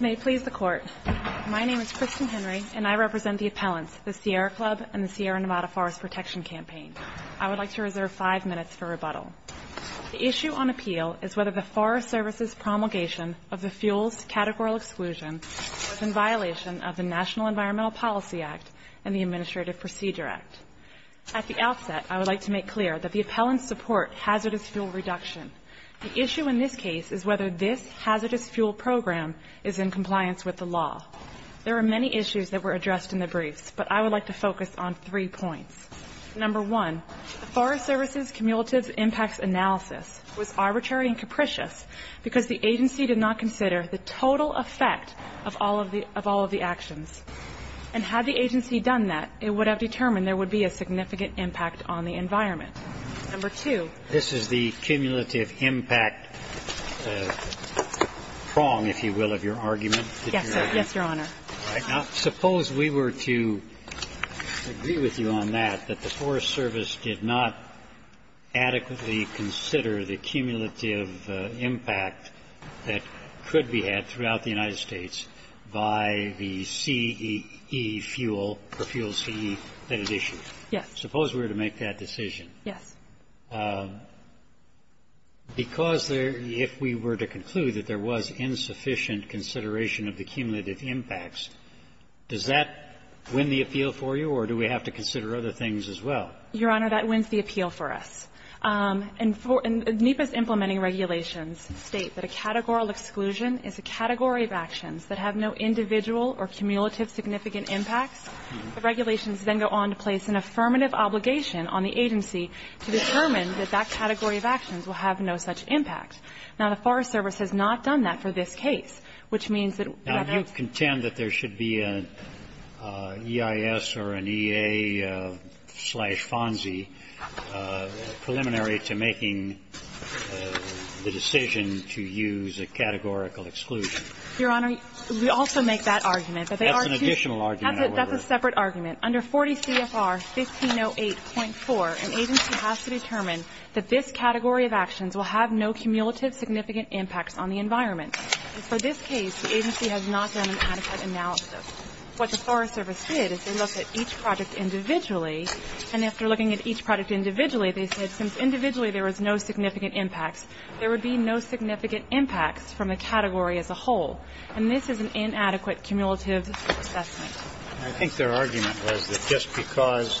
May it please the Court, my name is Kristen Henry and I represent the appellants, the Sierra Club and the Sierra Nevada Forest Protection Campaign. I would like to reserve five minutes for rebuttal. The issue on appeal is whether the Forest Service's promulgation of the fuel's categorical exclusion was in violation of the National Environmental Policy Act and the Administrative Procedure Act. At the outset, I would like to make clear that the appellants support hazardous fuel reduction. The issue in this case is whether this hazardous fuel program is in compliance with the law. There are many issues that were addressed in the case, and I would like to make clear that the appellants support hazardous fuel reduction. The issue in this case is whether the Forest Service's promulgation of the fuel's categorical exclusion was in violation of the National Environmental Policy Act. The issue in this case is whether the Forest Service's promulgation of the fuel's adequately consider the cumulative impact that could be had throughout the United States by the CEE fuel, or fuel CEE, that is issued. Yes. Suppose we were to make that decision. Yes. Because there – if we were to conclude that there was insufficient consideration of the cumulative impacts, does that win the appeal for you, or do we have to consider other things as well? Your Honor, that wins the appeal for us. And NEPA's implementing regulations state that a categorical exclusion is a category of actions that have no individual or cumulative significant impacts. The regulations then go on to place an affirmative obligation on the agency to determine that that category of actions will have no such impact. Now, the Forest Service has not done that for this case, which means that we have to go through the process. And that's a preliminary to making the decision to use a categorical exclusion. Your Honor, we also make that argument. That's an additional argument, however. That's a separate argument. Under 40 CFR 1508.4, an agency has to determine that this category of actions will have no cumulative significant impacts on the environment. For this case, the agency has not done an adequate analysis. What the Forest Service did is they looked at each project individually. And after looking at each project individually, they said, since individually there was no significant impacts, there would be no significant impacts from the category as a whole. And this is an inadequate cumulative assessment. I think their argument was that just because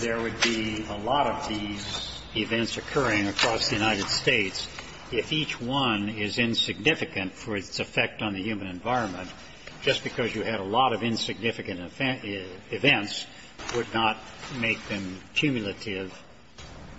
there would be a lot of these events occurring across the United States, if each one is insignificant for its effect on the human environment, just because you had a lot of insignificant events would not make them cumulative,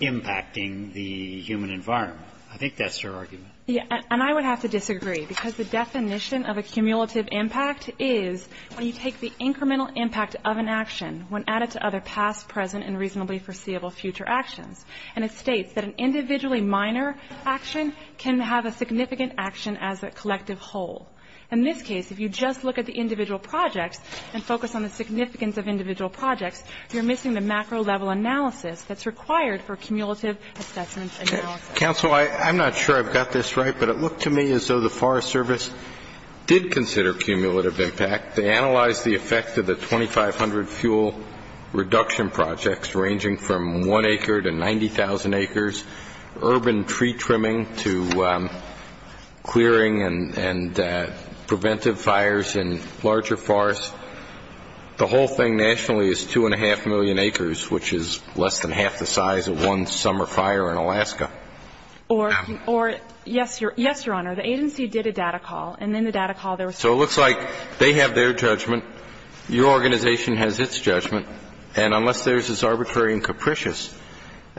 impacting the human environment. I think that's their argument. Yeah. And I would have to disagree, because the definition of a cumulative impact is when you take the incremental impact of an action, when added to other past, present and reasonably foreseeable future actions. And it states that an individually minor action can have a significant action as a collective whole. In this case, if you just look at the individual projects and focus on the significance of individual projects, you're missing the macro level analysis that's required for cumulative assessment analysis. Counsel, I'm not sure I've got this right, but it looked to me as though the Forest Service did consider cumulative impact. They analyzed the effect of the 2,500 fuel reduction projects, ranging from one acre to 90,000 acres, urban tree trimming to clearing and preventive fires in larger forests. The whole thing nationally is 2.5 million acres, which is less than half the size of one summer fire in Alaska. Or, yes, Your Honor, the agency did a data call, and in the data call there was So it looks like they have their judgment, your organization has its judgment, and unless theirs is arbitrary and capricious,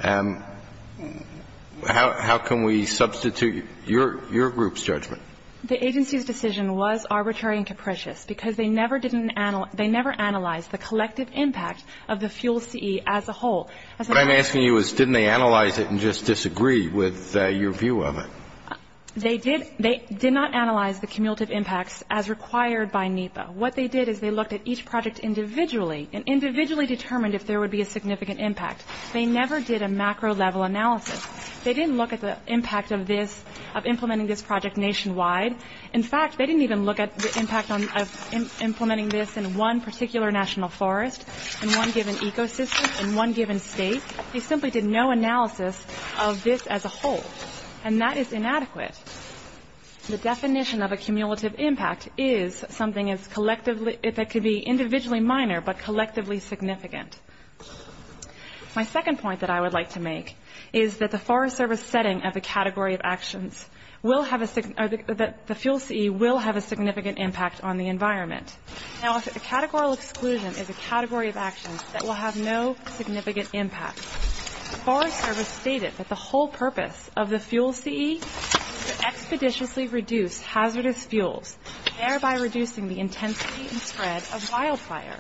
how can we substitute your group's judgment? The agency's decision was arbitrary and capricious because they never analyzed the collective impact of the fuel CE as a whole. What I'm asking you is didn't they analyze it and just disagree with your view of it? They did not analyze the cumulative impacts as required by NEPA. What they did is they looked at each project individually and individually determined if there would be a significant impact. They never did a macro-level analysis. They didn't look at the impact of implementing this project nationwide. In fact, they didn't even look at the impact of implementing this in one particular national forest, in one given ecosystem, in one given state. They simply did no analysis of this as a whole, and that is inadequate. The definition of a cumulative impact is something that could be individually minor but collectively significant. My second point that I would like to make is that the Forest Service setting of a category of actions, that the fuel CE will have a significant impact on the environment. Now, if a categorical exclusion is a category of actions that will have no significant impact, the Forest Service stated that the whole purpose of the fuel CE is to expeditiously reduce hazardous fuels, thereby reducing the intensity and spread of wildfire.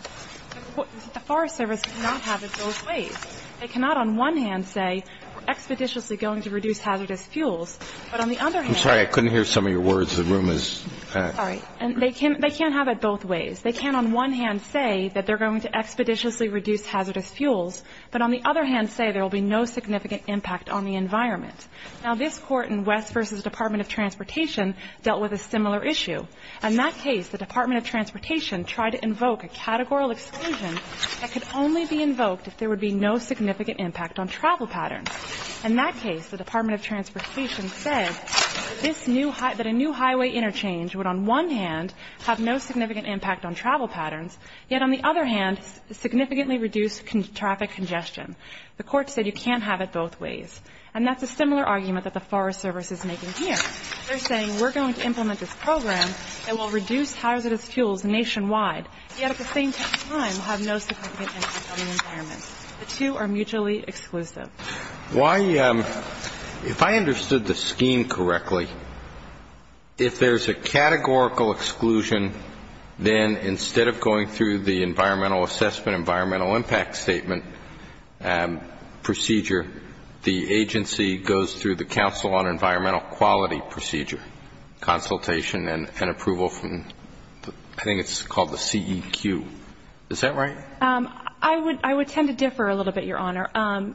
The Forest Service does not have it both ways. They cannot on one hand say, we're expeditiously going to reduce hazardous fuels, but on the other hand – I'm sorry, I couldn't hear some of your words. The room is – Sorry. And they can't have it both ways. They can on one hand say that they're going to expeditiously reduce hazardous fuels, but on the other hand say there will be no significant impact on the environment. Now, this court in West v. Department of Transportation dealt with a similar issue. In that case, the Department of Transportation tried to invoke a categorical exclusion that could only be invoked if there would be no significant impact on travel patterns. In that case, the Department of Transportation said that a new highway interchange would on one hand have no significant impact on travel patterns, yet on the other hand significantly reduce traffic congestion. The court said you can't have it both ways. And that's a similar argument that the Forest Service is making here. They're saying, we're going to implement this program that will reduce hazardous fuels nationwide, yet at the same time have no significant impact on the environment. The two are mutually exclusive. Why – if I understood the scheme correctly, if there's a categorical exclusion, then instead of going through the environmental assessment, environmental impact statement procedure, the agency goes through the counsel on environmental quality procedure, consultation and approval from – I think it's called the CEQ. Is that right? I would tend to differ a little bit, Your Honor.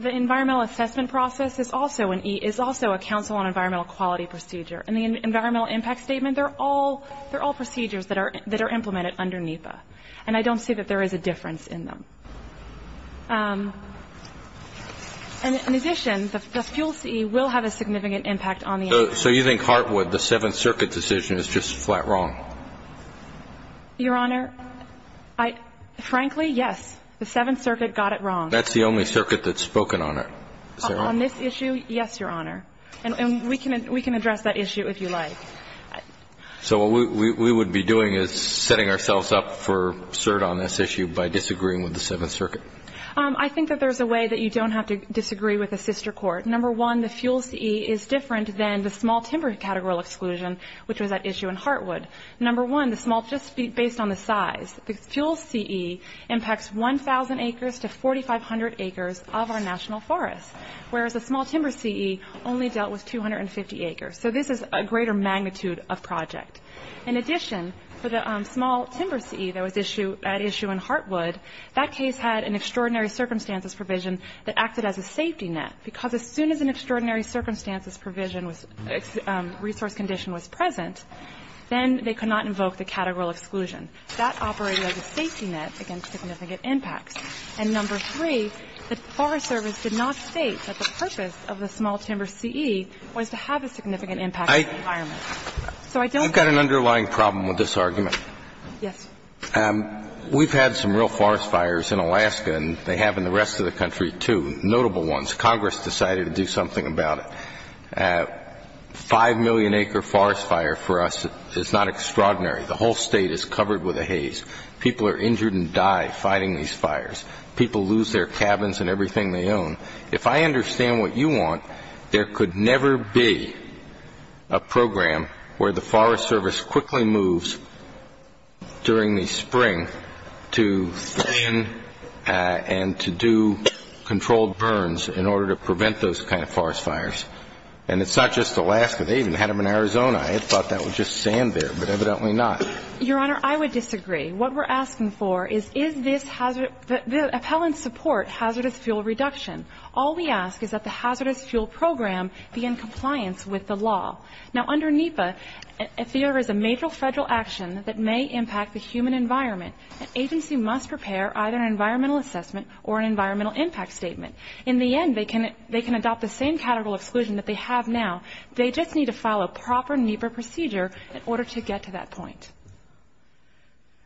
The environmental assessment process is also an – is also a counsel on environmental quality procedure. And the environmental impact statement, they're all – they're all procedures that are implemented under NEPA. And I don't see that there is a difference in them. In addition, the fuel CE will have a significant impact on the environment. So you think Hartwood, the Seventh Circuit decision, is just flat wrong? Your Honor, I – frankly, yes. The Seventh Circuit got it wrong. That's the only circuit that's spoken on it, is that right? On this issue, yes, Your Honor. And we can address that issue if you like. So what we would be doing is setting ourselves up for cert on this issue by disagreeing with the Seventh Circuit. I think that there's a way that you don't have to disagree with a sister court. Number one, the fuel CE is different than the small timber categorical exclusion, which was at issue in Hartwood. Number one, the small – just based on the size, the fuel CE impacts 1,000 acres to 4,500 acres of our national forest, whereas the small timber CE only dealt with 250 acres. So this is a greater magnitude of project. In addition, for the small timber CE that was at issue in Hartwood, that case had an extraordinary circumstances provision that acted as a safety net, because as soon as an extraordinary circumstances provision was – resource condition was present, then they could not invoke the categorical exclusion. That operated as a safety net against significant impacts. And number three, the Forest Service did not state that the purpose of the small timber CE was to have a significant impact on the environment. So I don't think – You've got an underlying problem with this argument. Yes. We've had some real forest fires in Alaska, and they have in the rest of the country too, notable ones. Congress decided to do something about it. Five million acre forest fire for us is not extraordinary. The whole State is covered with a haze. People are injured and die fighting these fires. People lose their cabins and everything they own. If I understand what you want, there could never be a program where the Forest Service quickly moves during the spring to stand and to do controlled burns in order to prevent those kind of forest fires. And it's not just Alaska. They even had them in Arizona. I had thought that would just stand there, but evidently not. Your Honor, I would disagree. What we're asking for is, is this – the appellants support hazardous fuel reduction. All we ask is that the hazardous fuel program be in compliance with the law. Now under NEPA, if there is a major Federal action that may impact the human environment, an agency must prepare either an environmental assessment or an environmental impact statement. In the end, they can adopt the same category of exclusion that they have now. They just need to follow proper NEPA procedure in order to get to that point.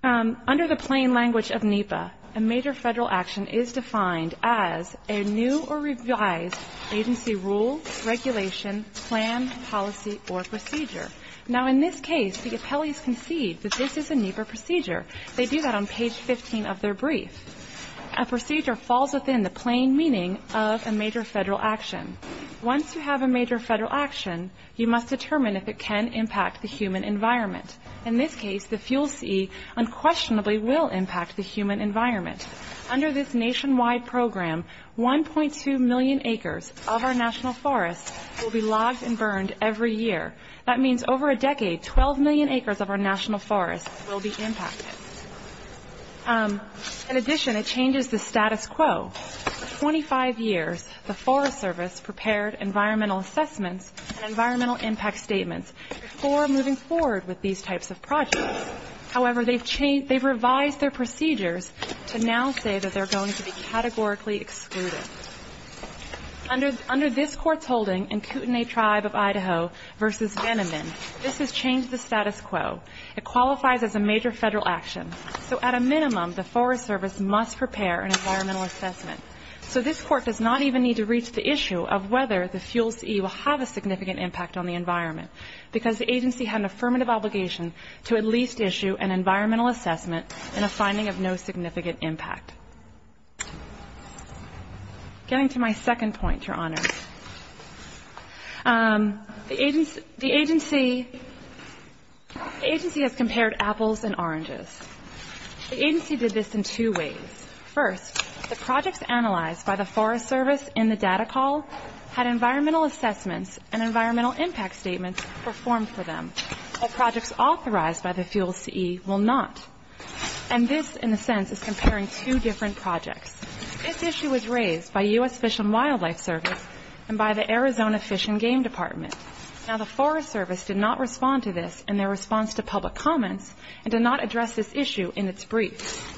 Under the plain language of NEPA, a major Federal action is defined as a new or revised agency rule, regulation, plan, policy, or procedure. Now in this case, the appellees concede that this is a NEPA procedure. They do that on page 15 of their brief. A procedure falls within the plain meaning of a major Federal action. Once you have a major Federal action, you must determine if it can impact the human environment. In this case, the fuel C unquestionably will impact the human environment. Under this nationwide program, 1.2 million acres of our national forest will be logged and burned every year. That means over a decade, 12 million acres of our national forest will be impacted. In addition, it changes the status quo. For 25 years, the Forest Service prepared environmental assessments and environmental impact statements before moving forward with these types of projects. However, they've revised their procedures to now say that they're going to be categorically excluded. Under this Court's holding in Kootenai Tribe of Idaho v. Venoman, this has changed the status quo. It qualifies as a major Federal action. So at a minimum, the Forest Service must prepare an environmental assessment. So this Court does not even need to reach the issue of whether the fuel C will have a significant impact on the environment, because the agency had an affirmative obligation to at least issue an environmental assessment in a finding of no significant impact. Getting to my second point, Your Honor, the agency has compared apples and oranges. The agency did this in two ways. First, the projects analyzed by the Forest Service in the data call had environmental assessments and environmental impact statements performed for them, while projects authorized by the fuel C will not. And this, in a sense, is comparing two different projects. This issue was raised by U.S. Fish and Wildlife Service and by the Arizona Fish and Game Department. Now, the Forest Service did not respond to this in their response to public comments and did not address this issue in its brief.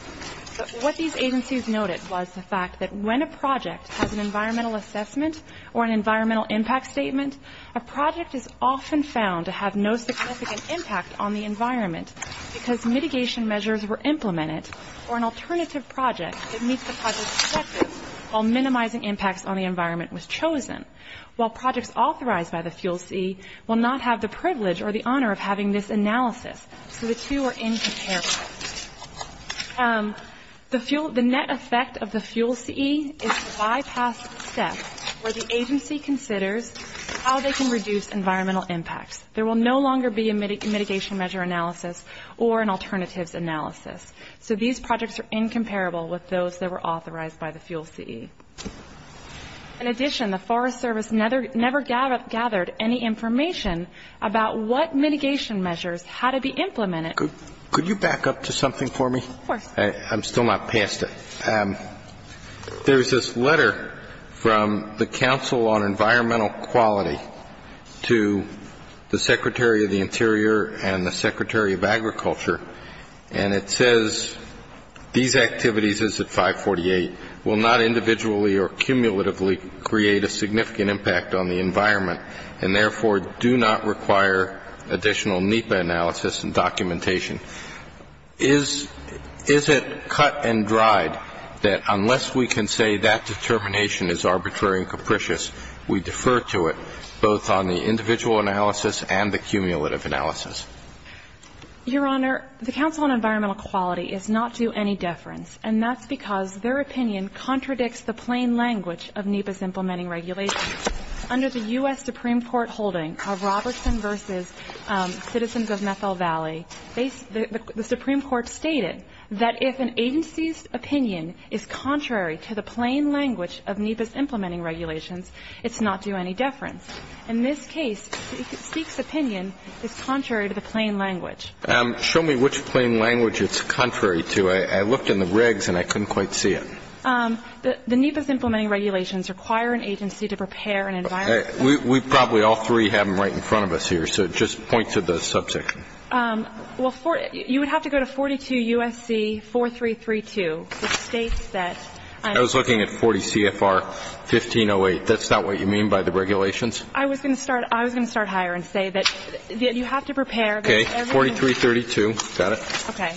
But what these agencies noted was the fact that when a project has an environmental assessment or an environmental impact statement, a project is often found to have no significant impact on the environment because mitigation measures were implemented for an alternative project that meets the project's objectives while minimizing impacts on the environment was chosen, while projects authorized by the fuel C will not have the privilege or the honor of having this analysis, so the two are incomparable. The net effect of the fuel C is to bypass the step where the agency considers how they can reduce environmental impacts. There will no longer be a mitigation measure analysis or an alternatives analysis, so these projects are incomparable with those that were authorized by the fuel C. In addition, the Forest Service never gathered any information about what mitigation measures, how to be implemented. Could you back up to something for me? Of course. I'm still not past it. There's this letter from the Council on Environmental Quality to the Secretary of the Interior and the Secretary of Agriculture, and it says these activities at 548 will not individually or cumulatively create a significant impact on the environment and therefore do not require additional NEPA analysis and documentation. Is it cut and dried that unless we can say that determination is arbitrary and capricious, we defer to it both on the individual analysis and the cumulative analysis? Your Honor, the Council on Environmental Quality is not due any deference, and that's because their opinion contradicts the plain language of NEPA's implementing regulations. Under the U.S. Supreme Court holding of Robertson v. Citizens of Methel Valley, the Supreme Court stated that if an agency's opinion is contrary to the plain language of NEPA's implementing regulations, it's not due any deference. In this case, Seek's opinion is contrary to the plain language. Show me which plain language it's contrary to. I looked in the regs, and I couldn't quite see it. The NEPA's implementing regulations require an agency to prepare an environment We probably all three have them right in front of us here, so just point to the subsection. You would have to go to 42 U.S.C. 4332, which states that I was looking at 40 C.F.R. 1508. That's not what you mean by the regulations? I was going to start higher and say that you have to prepare Okay, 4332. Got it. Okay.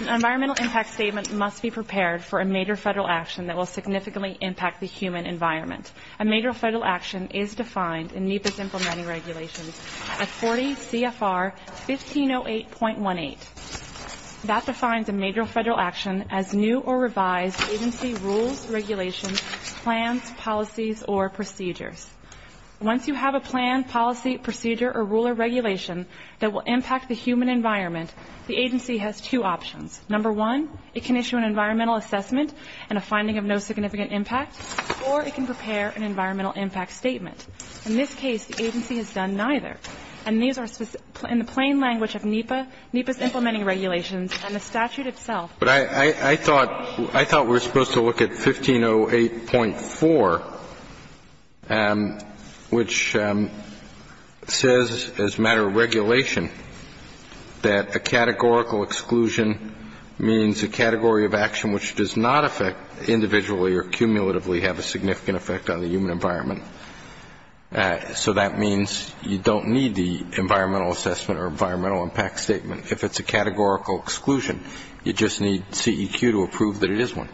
An environmental impact statement must be prepared for a major Federal action that will significantly impact the human environment. A major Federal action is defined in NEPA's implementing regulations as 40 C.F.R. 1508.18. That defines a major Federal action as new or revised agency rules, regulations, plans, policies, or procedures. Once you have a plan, policy, procedure, or rule or regulation that will impact the human environment, the agency has two options. Number one, it can issue an environmental assessment and a finding of no significant impact, or it can prepare an environmental impact statement. In this case, the agency has done neither. And these are in the plain language of NEPA, NEPA's implementing regulations, and the statute itself But I thought we were supposed to look at 1508.4, which says as a matter of regulation that a categorical exclusion means a category of action which does not affect individually or cumulatively have a significant effect on the human environment. So that means you don't need the environmental assessment or environmental impact statement if it's a categorical exclusion. You just need CEQ to approve that it is one.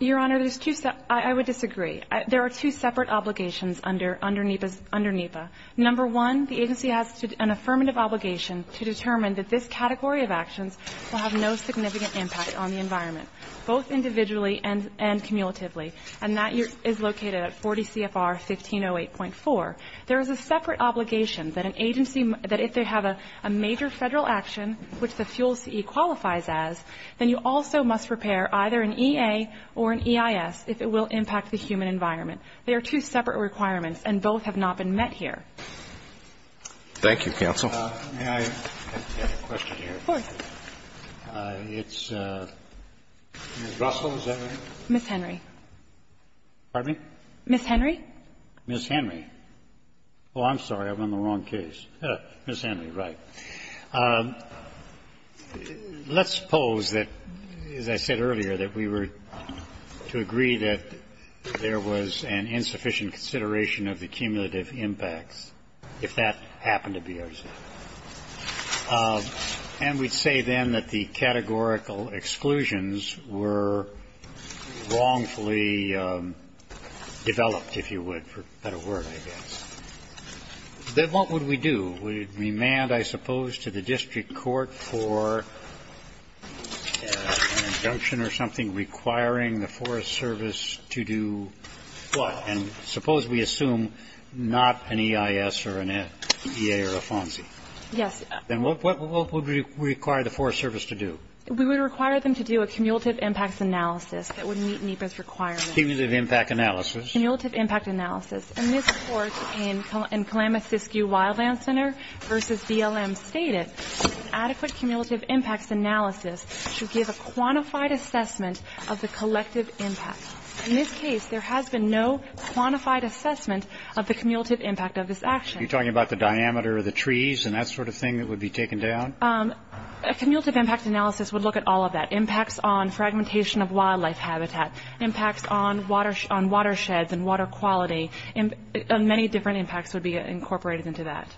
Your Honor, there's two sep -- I would disagree. There are two separate obligations under NEPA. Number one, the agency has an affirmative obligation to determine that this category of actions will have no significant impact on the environment, both individually and cumulatively. And that is located at 40 C.F.R. 1508.4. There is a separate obligation that an agency, that if they have a major Federal action, which the fuel CE qualifies as, then you also must prepare either an EA or an EIS if it will impact the human environment. They are two separate requirements, and both have not been met here. Roberts. Thank you, counsel. May I add a question here? Of course. It's Ms. Russell, is that right? Ms. Henry. Pardon me? Ms. Henry. Ms. Henry. Oh, I'm sorry. I'm on the wrong case. Ms. Henry, right. Let's suppose that, as I said earlier, that we were to agree that there was an insufficient consideration of the cumulative impacts, if that happened to be our case. And we'd say then that the categorical exclusions were wrongfully developed, if you would, for better word, I guess. Then what would we do? We'd remand, I suppose, to the district court for an injunction or something requiring the Forest Service to do what? And suppose we assume not an EIS or an EA or a FONSI. Yes. Then what would we require the Forest Service to do? We would require them to do a cumulative impacts analysis that would meet NEPA's requirements. Cumulative impact analysis. Cumulative impact analysis. In this court, in Kalamazoo Sioux Wildland Center v. BLM, stated that an adequate cumulative impacts analysis should give a quantified assessment of the collective impact. In this case, there has been no quantified assessment of the cumulative impact of this action. Are you talking about the diameter of the trees and that sort of thing that would be taken down? A cumulative impact analysis would look at all of that. Impacts on fragmentation of wildlife habitat. Impacts on watersheds and water quality. Many different impacts would be incorporated into that.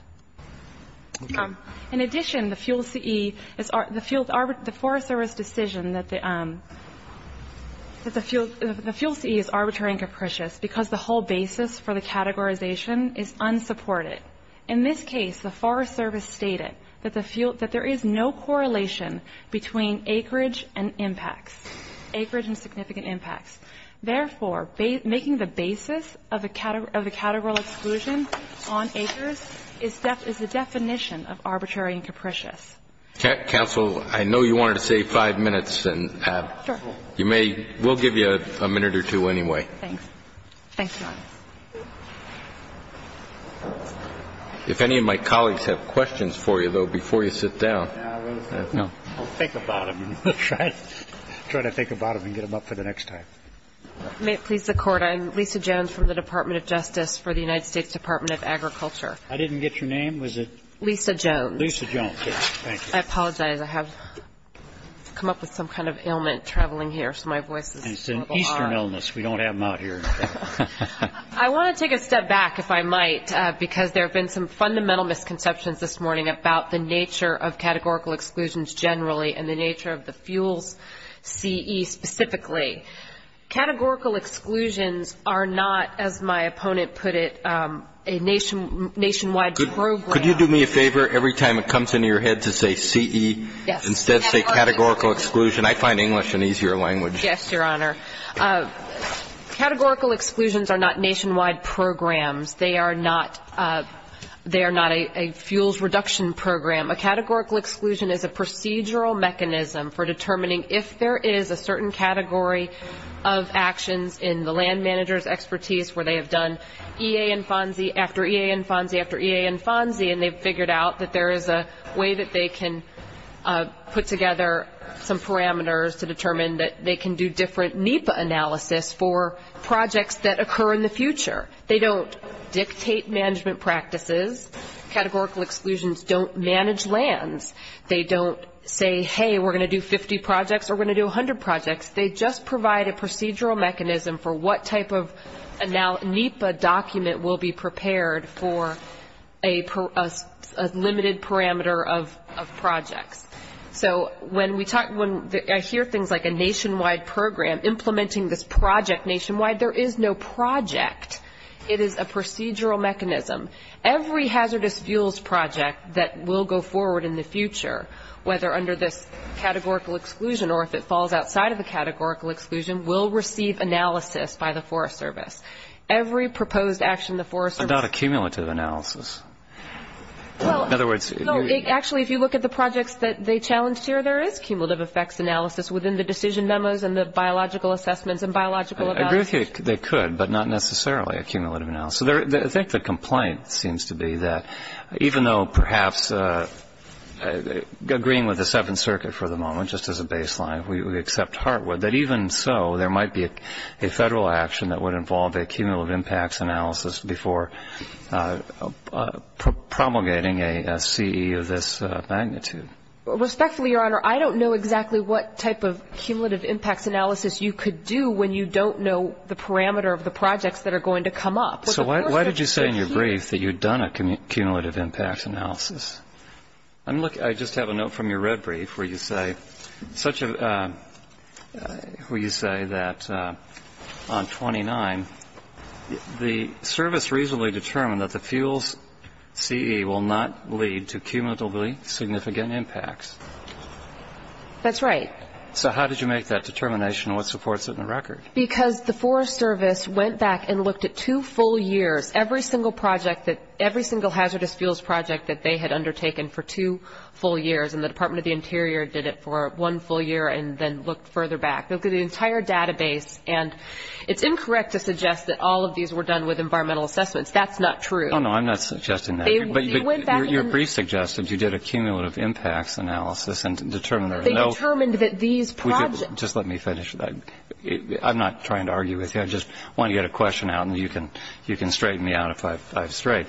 Okay. In addition, the FUEL-CE, the Forest Service decision that the FUEL-CE is arbitrary and capricious because the whole basis for the categorization is unsupported. In this case, the Forest Service stated that there is no correlation between acreage and impacts. Acreage and significant impacts. Therefore, making the basis of the categorical exclusion on acres is the definition of arbitrary and capricious. Counsel, I know you wanted to save five minutes. Sure. We'll give you a minute or two anyway. Thanks. Thanks, John. If any of my colleagues have questions for you, though, before you sit down. No. We'll think about them. We'll try to think about them and get them up for the next time. May it please the Court, I'm Lisa Jones from the Department of Justice for the United States Department of Agriculture. I didn't get your name. Was it? Lisa Jones. Lisa Jones. Thank you. I apologize. I have come up with some kind of ailment traveling here, so my voice is a little hoarse. It's an eastern illness. We don't have them out here. I want to take a step back, if I might, because there have been some fundamental misconceptions this morning about the nature of categorical exclusions generally and the nature of the FUELS CE specifically. Categorical exclusions are not, as my opponent put it, a nationwide program. Could you do me a favor? Every time it comes into your head to say CE, instead say categorical exclusion. I find English an easier language. Yes, Your Honor. Categorical exclusions are not nationwide programs. They are not a FUELS reduction program. A categorical exclusion is a procedural mechanism for determining if there is a certain category of actions in the land manager's expertise where they have done EA and FONSI after EA and FONSI after EA and FONSI, and they've figured out that there is a way that they can put together some parameters to determine that they can do different NEPA analysis for projects that occur in the future. They don't dictate management practices. Categorical exclusions don't manage lands. They don't say, hey, we're going to do 50 projects or we're going to do 100 projects. They just provide a procedural mechanism for what type of NEPA document will be prepared for a limited parameter of projects. So when I hear things like a nationwide program implementing this project it is a procedural mechanism. Every hazardous fuels project that will go forward in the future, whether under this categorical exclusion or if it falls outside of the categorical exclusion, will receive analysis by the Forest Service. Every proposed action the Forest Service But not a cumulative analysis. Well, actually, if you look at the projects that they challenged here, there is cumulative effects analysis within the decision memos and the biological assessments and biological evaluation. They could, but not necessarily a cumulative analysis. I think the complaint seems to be that even though perhaps agreeing with the Seventh Circuit for the moment, just as a baseline, we accept Hartwood, that even so there might be a federal action that would involve a cumulative impacts analysis before promulgating a CE of this magnitude. Respectfully, Your Honor, I don't know exactly what type of cumulative impacts analysis you could do when you don't know the parameter of the projects that are going to come up. So why did you say in your brief that you had done a cumulative impacts analysis? I just have a note from your red brief where you say that on 29, the service reasonably determined that the fuels CE will not lead to cumulatively significant impacts. That's right. So how did you make that determination and what supports it in the record? Because the Forest Service went back and looked at two full years, every single hazardous fuels project that they had undertaken for two full years, and the Department of the Interior did it for one full year and then looked further back. They looked at the entire database, and it's incorrect to suggest that all of these were done with environmental assessments. That's not true. No, no, I'm not suggesting that. But your brief suggested you did a cumulative impacts analysis and determined that these projects. Just let me finish. I'm not trying to argue with you. I just want to get a question out, and you can straighten me out if I've strayed.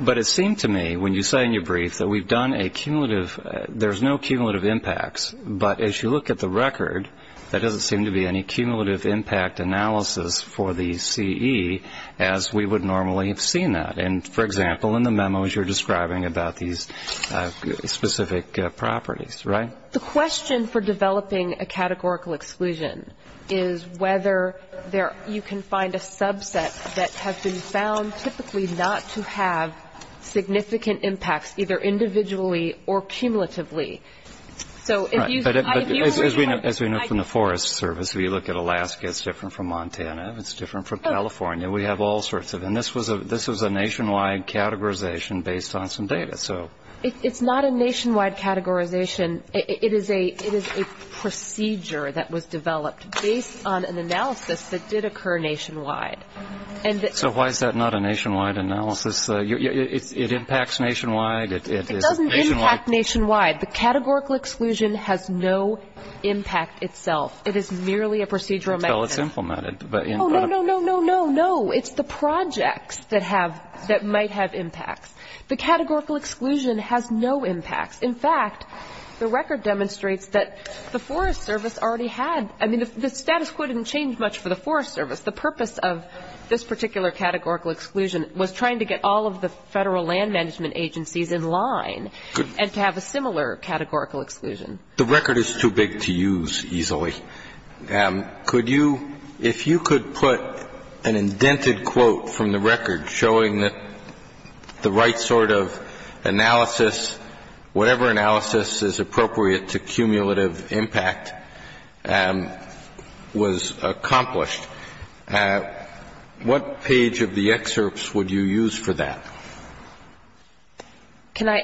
But it seemed to me when you say in your brief that we've done a cumulative, there's no cumulative impacts. But as you look at the record, there doesn't seem to be any cumulative impact analysis for the CE as we would normally have seen that. And, for example, in the memos you're describing about these specific properties. Right? The question for developing a categorical exclusion is whether you can find a subset that has been found typically not to have significant impacts, either individually or cumulatively. Right. But as we know from the Forest Service, if you look at Alaska, it's different from Montana. It's different from California. We have all sorts of them. This was a nationwide categorization based on some data. It's not a nationwide categorization. It is a procedure that was developed based on an analysis that did occur nationwide. So why is that not a nationwide analysis? It impacts nationwide? It doesn't impact nationwide. The categorical exclusion has no impact itself. It is merely a procedural mechanism. Well, it's implemented. Oh, no, no, no, no, no. It's the projects that might have impacts. The categorical exclusion has no impacts. In fact, the record demonstrates that the Forest Service already had. I mean, the status quo didn't change much for the Forest Service. The purpose of this particular categorical exclusion was trying to get all of the Federal Land Management Agencies in line and to have a similar categorical exclusion. The record is too big to use easily. Could you, if you could put an indented quote from the record showing that the right sort of analysis, whatever analysis is appropriate to cumulative impact, was accomplished, what page of the excerpts would you use for that? Can I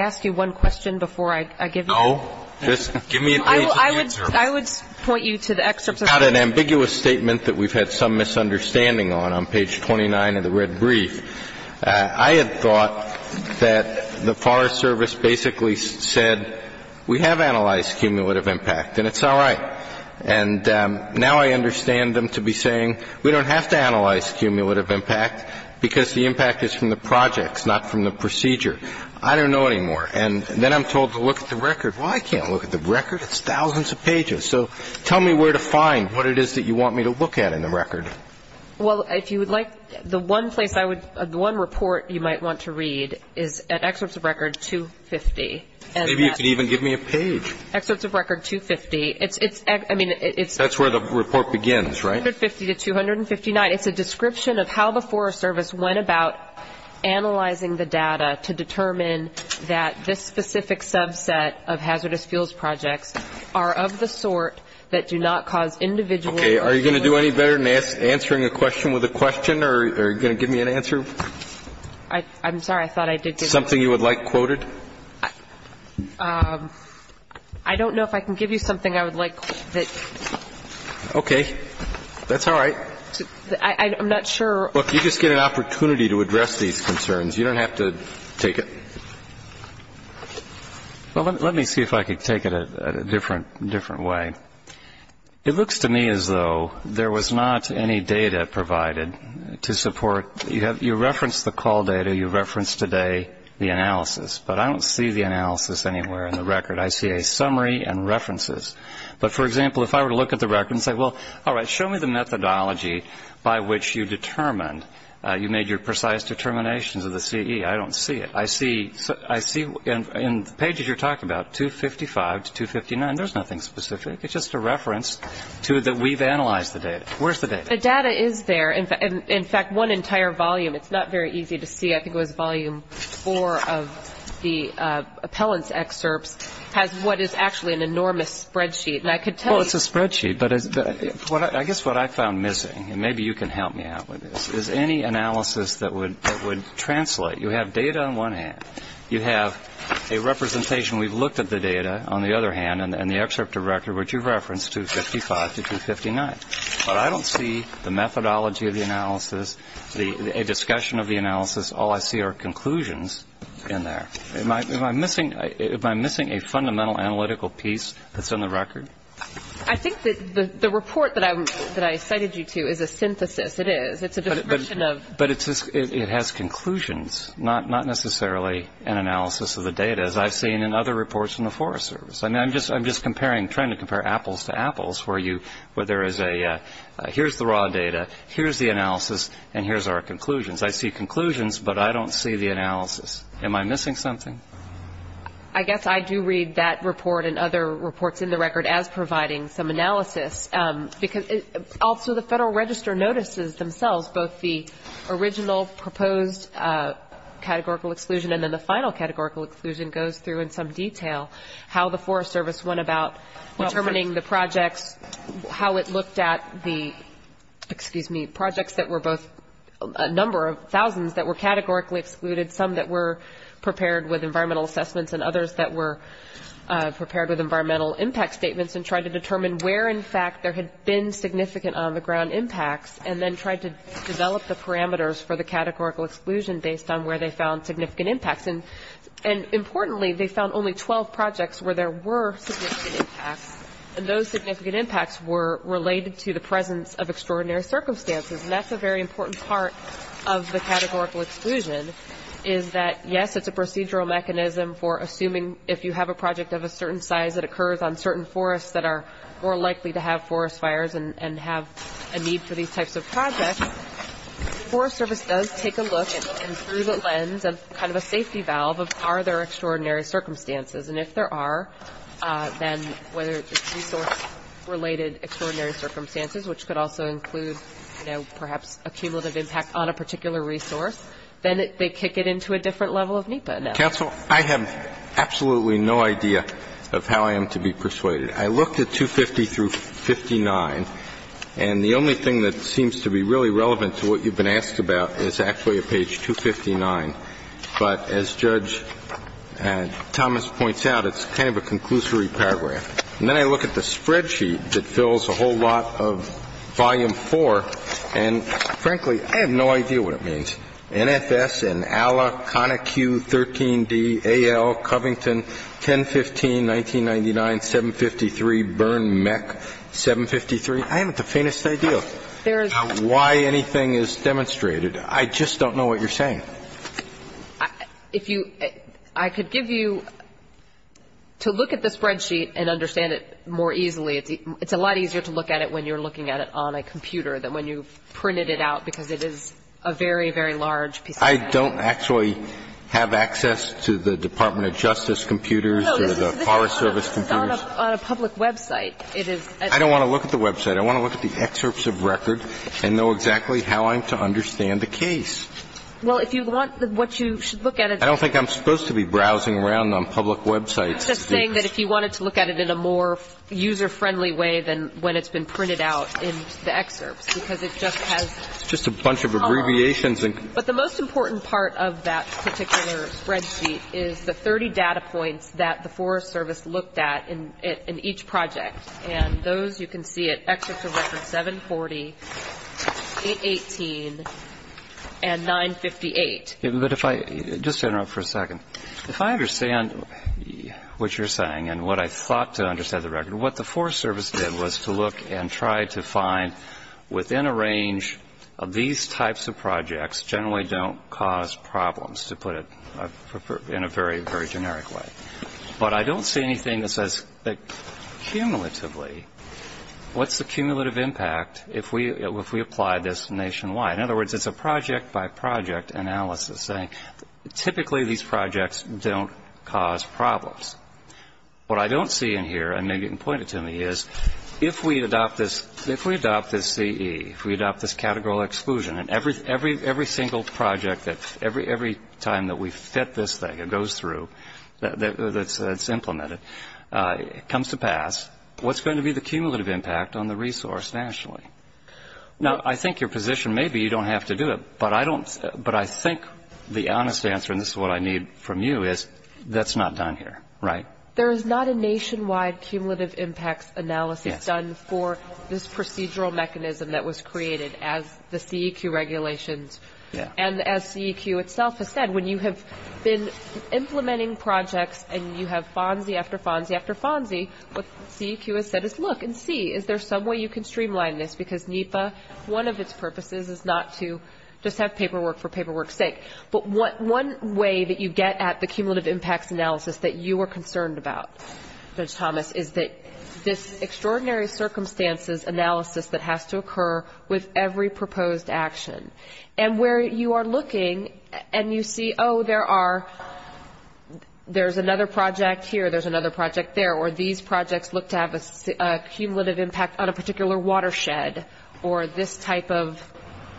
ask you one question before I give you? No. Just give me a page of the excerpts. I would point you to the excerpts. It's not an ambiguous statement that we've had some misunderstanding on, on page 29 of the red brief. I had thought that the Forest Service basically said we have analyzed cumulative impact and it's all right. And now I understand them to be saying we don't have to analyze cumulative impact because the impact is from the projects, not from the procedure. I don't know anymore. And then I'm told to look at the record. Well, I can't look at the record. It's thousands of pages. So tell me where to find what it is that you want me to look at in the record. Well, if you would like, the one place I would, the one report you might want to read is at excerpts of record 250. Maybe you could even give me a page. Excerpts of record 250. It's, I mean, it's. That's where the report begins, right? 250 to 259. It's a description of how the Forest Service went about analyzing the data to determine that this specific subset of hazardous fuels projects are of the sort that do not cause individual. Okay. Are you going to do any better than answering a question with a question or are you going to give me an answer? I'm sorry. I thought I did. Something you would like quoted? I don't know if I can give you something I would like. Okay. That's all right. I'm not sure. Look, you just get an opportunity to address these concerns. You don't have to take it. Well, let me see if I can take it a different way. It looks to me as though there was not any data provided to support. You referenced the call data. You referenced today the analysis. But I don't see the analysis anywhere in the record. I see a summary and references. But, for example, if I were to look at the record and say, well, all right, show me the methodology by which you determined, you made your precise determinations of the CE, I don't see it. I see in the pages you're talking about, 255 to 259, there's nothing specific. It's just a reference to that we've analyzed the data. Where's the data? The data is there. In fact, one entire volume, it's not very easy to see, I think it was volume four of the appellant's excerpts, has what is actually an enormous spreadsheet. Well, it's a spreadsheet, but I guess what I found missing, and maybe you can help me out with this, is any analysis that would translate. You have data on one hand. You have a representation we've looked at the data, on the other hand, and the excerpt of record which you've referenced, 255 to 259. But I don't see the methodology of the analysis, a discussion of the analysis. All I see are conclusions in there. Am I missing a fundamental analytical piece that's in the record? I think that the report that I cited you to is a synthesis. It is. But it has conclusions, not necessarily an analysis of the data, as I've seen in other reports in the Forest Service. I'm just comparing, trying to compare apples to apples, where there is a here's the raw data, here's the analysis, and here's our conclusions. I see conclusions, but I don't see the analysis. Am I missing something? I guess I do read that report and other reports in the record as providing some analysis. Also, the Federal Register notices themselves both the original proposed categorical exclusion and then the final categorical exclusion goes through in some detail how the Forest Service went about determining the projects, how it looked at the, excuse me, projects that were both a number of thousands that were categorically excluded, some that were prepared with environmental assessments and others that were prepared with environmental impact statements and tried to determine where, in fact, there had been significant on the ground impacts and then tried to develop the parameters for the categorical exclusion based on where they found significant impacts. And importantly, they found only 12 projects where there were significant impacts, and those significant impacts were related to the presence of extraordinary circumstances. And that's a very important part of the categorical exclusion is that, yes, it's a procedural mechanism for assuming if you have a project of a certain size that occurs on certain forests that are more likely to have forest fires and have a need for these types of projects, the Forest Service does take a look through the lens of kind of a safety valve of are there extraordinary circumstances. And if there are, then whether it's resource-related extraordinary circumstances, which could also include, you know, perhaps a cumulative impact on a particular resource, then they kick it into a different level of NEPA analysis. Counsel, I have absolutely no idea of how I am to be persuaded. I looked at 250 through 59, and the only thing that seems to be really relevant to what you've been asked about is actually at page 259. But as Judge Thomas points out, it's kind of a conclusory paragraph. And then I look at the spreadsheet that fills a whole lot of volume 4, and, frankly, I have no idea what it means. NFS and ALA, CONICU, 13D, AL, Covington, 1015, 1999, 753, Byrne, MEC, 753. I have the faintest idea why anything is demonstrated. I just don't know what you're saying. If you – I could give you – to look at the spreadsheet and understand it more easily, it's a lot easier to look at it when you're looking at it on a computer than when you've printed it out because it is a very, very large piece of data. I don't actually have access to the Department of Justice computers or the Forest Service computers. No, this is on a public website. I don't want to look at the website. I want to look at the excerpts of record and know exactly how I'm to understand the case. Well, if you want what you should look at it. I don't think I'm supposed to be browsing around on public websites. I'm just saying that if you wanted to look at it in a more user-friendly way than when it's been printed out in the excerpts because it just has – It's just a bunch of abbreviations. But the most important part of that particular spreadsheet is the 30 data points that the Forest Service looked at in each project. And those you can see at excerpt of record 740, 818, and 958. But if I – just stand up for a second. If I understand what you're saying and what I thought to understand the record, what the Forest Service did was to look and try to find within a range of these types of projects generally don't cause problems, to put it in a very, very generic way. But I don't see anything that says that cumulatively, what's the cumulative impact if we apply this nationwide? In other words, it's a project-by-project analysis, saying typically these projects don't cause problems. What I don't see in here, and maybe you can point it to me, is if we adopt this CE, if we adopt this categorical exclusion, and every single project that every time that we fit this thing, it goes through, that's implemented, comes to pass, what's going to be the cumulative impact on the resource nationally? Now, I think your position may be you don't have to do it, but I think the honest answer, and this is what I need from you, is that's not done here, right? There is not a nationwide cumulative impacts analysis done for this procedural mechanism that was created as the CEQ regulations. And as CEQ itself has said, when you have been implementing projects and you have FONSI after FONSI after FONSI, what CEQ has said is, look and see, is there some way you can streamline this? Because NEPA, one of its purposes is not to just have paperwork for paperwork's specific, but one way that you get at the cumulative impacts analysis that you are concerned about, Judge Thomas, is that this extraordinary circumstances analysis that has to occur with every proposed action. And where you are looking and you see, oh, there's another project here, there's another project there, or these projects look to have a cumulative impact on a particular watershed, or this type of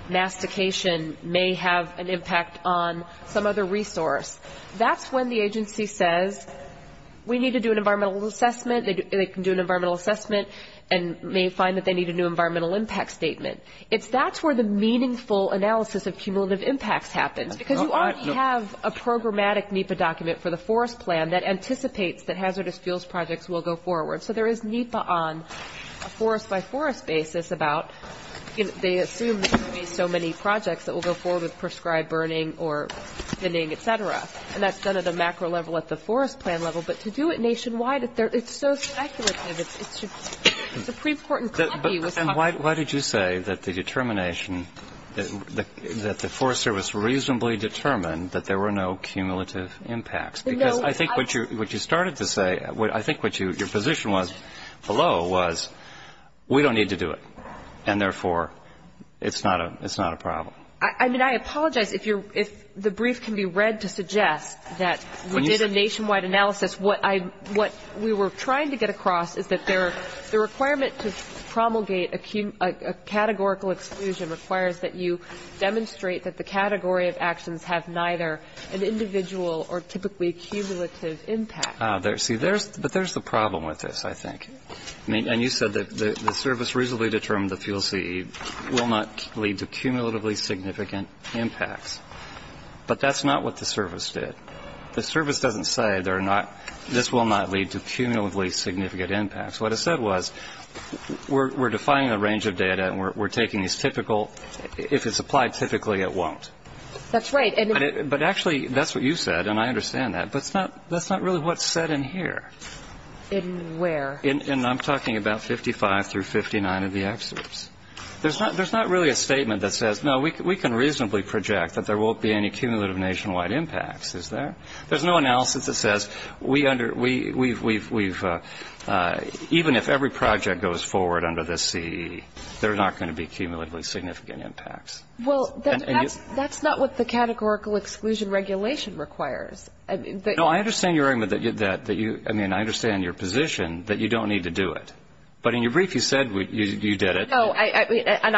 mastication may have an impact on some other resource, that's when the agency says, we need to do an environmental assessment, they can do an environmental assessment and may find that they need a new environmental impact statement. That's where the meaningful analysis of cumulative impacts happens, because you already have a programmatic NEPA document for the forest plan that anticipates that hazardous fuels projects will go forward. So there is NEPA on a forest-by-forest basis about, they assume that there will be so many projects that will go forward with prescribed burning or thinning, et cetera. And that's done at a macro level at the forest plan level. But to do it nationwide, it's so speculative. It's a pre-portant copy. And why did you say that the determination, that the Forest Service reasonably determined that there were no cumulative impacts? Because I think what you started to say, I think what your position was below was, we don't need to do it. And therefore, it's not a problem. I mean, I apologize if the brief can be read to suggest that we did a nationwide analysis. What we were trying to get across is that the requirement to promulgate a categorical exclusion requires that you demonstrate that the category of actions have neither an individual or typically cumulative impact. See, but there's the problem with this, I think. I mean, and you said that the service reasonably determined the fuel CE will not lead to cumulatively significant impacts. But that's not what the service did. The service doesn't say this will not lead to cumulatively significant impacts. What it said was, we're defining a range of data and we're taking these typical, if it's applied typically, it won't. That's right. But actually, that's what you said, and I understand that. But that's not really what's said in here. In where? And I'm talking about 55 through 59 of the excerpts. There's not really a statement that says, no, we can reasonably project that there won't be any cumulative nationwide impacts, is there? There's no analysis that says we've, even if every project goes forward under this CE, there are not going to be cumulatively significant impacts. Well, that's not what the categorical exclusion regulation requires. No, I understand your argument that you, I mean, I understand your position that you don't need to do it. But in your brief you said you did it. No, and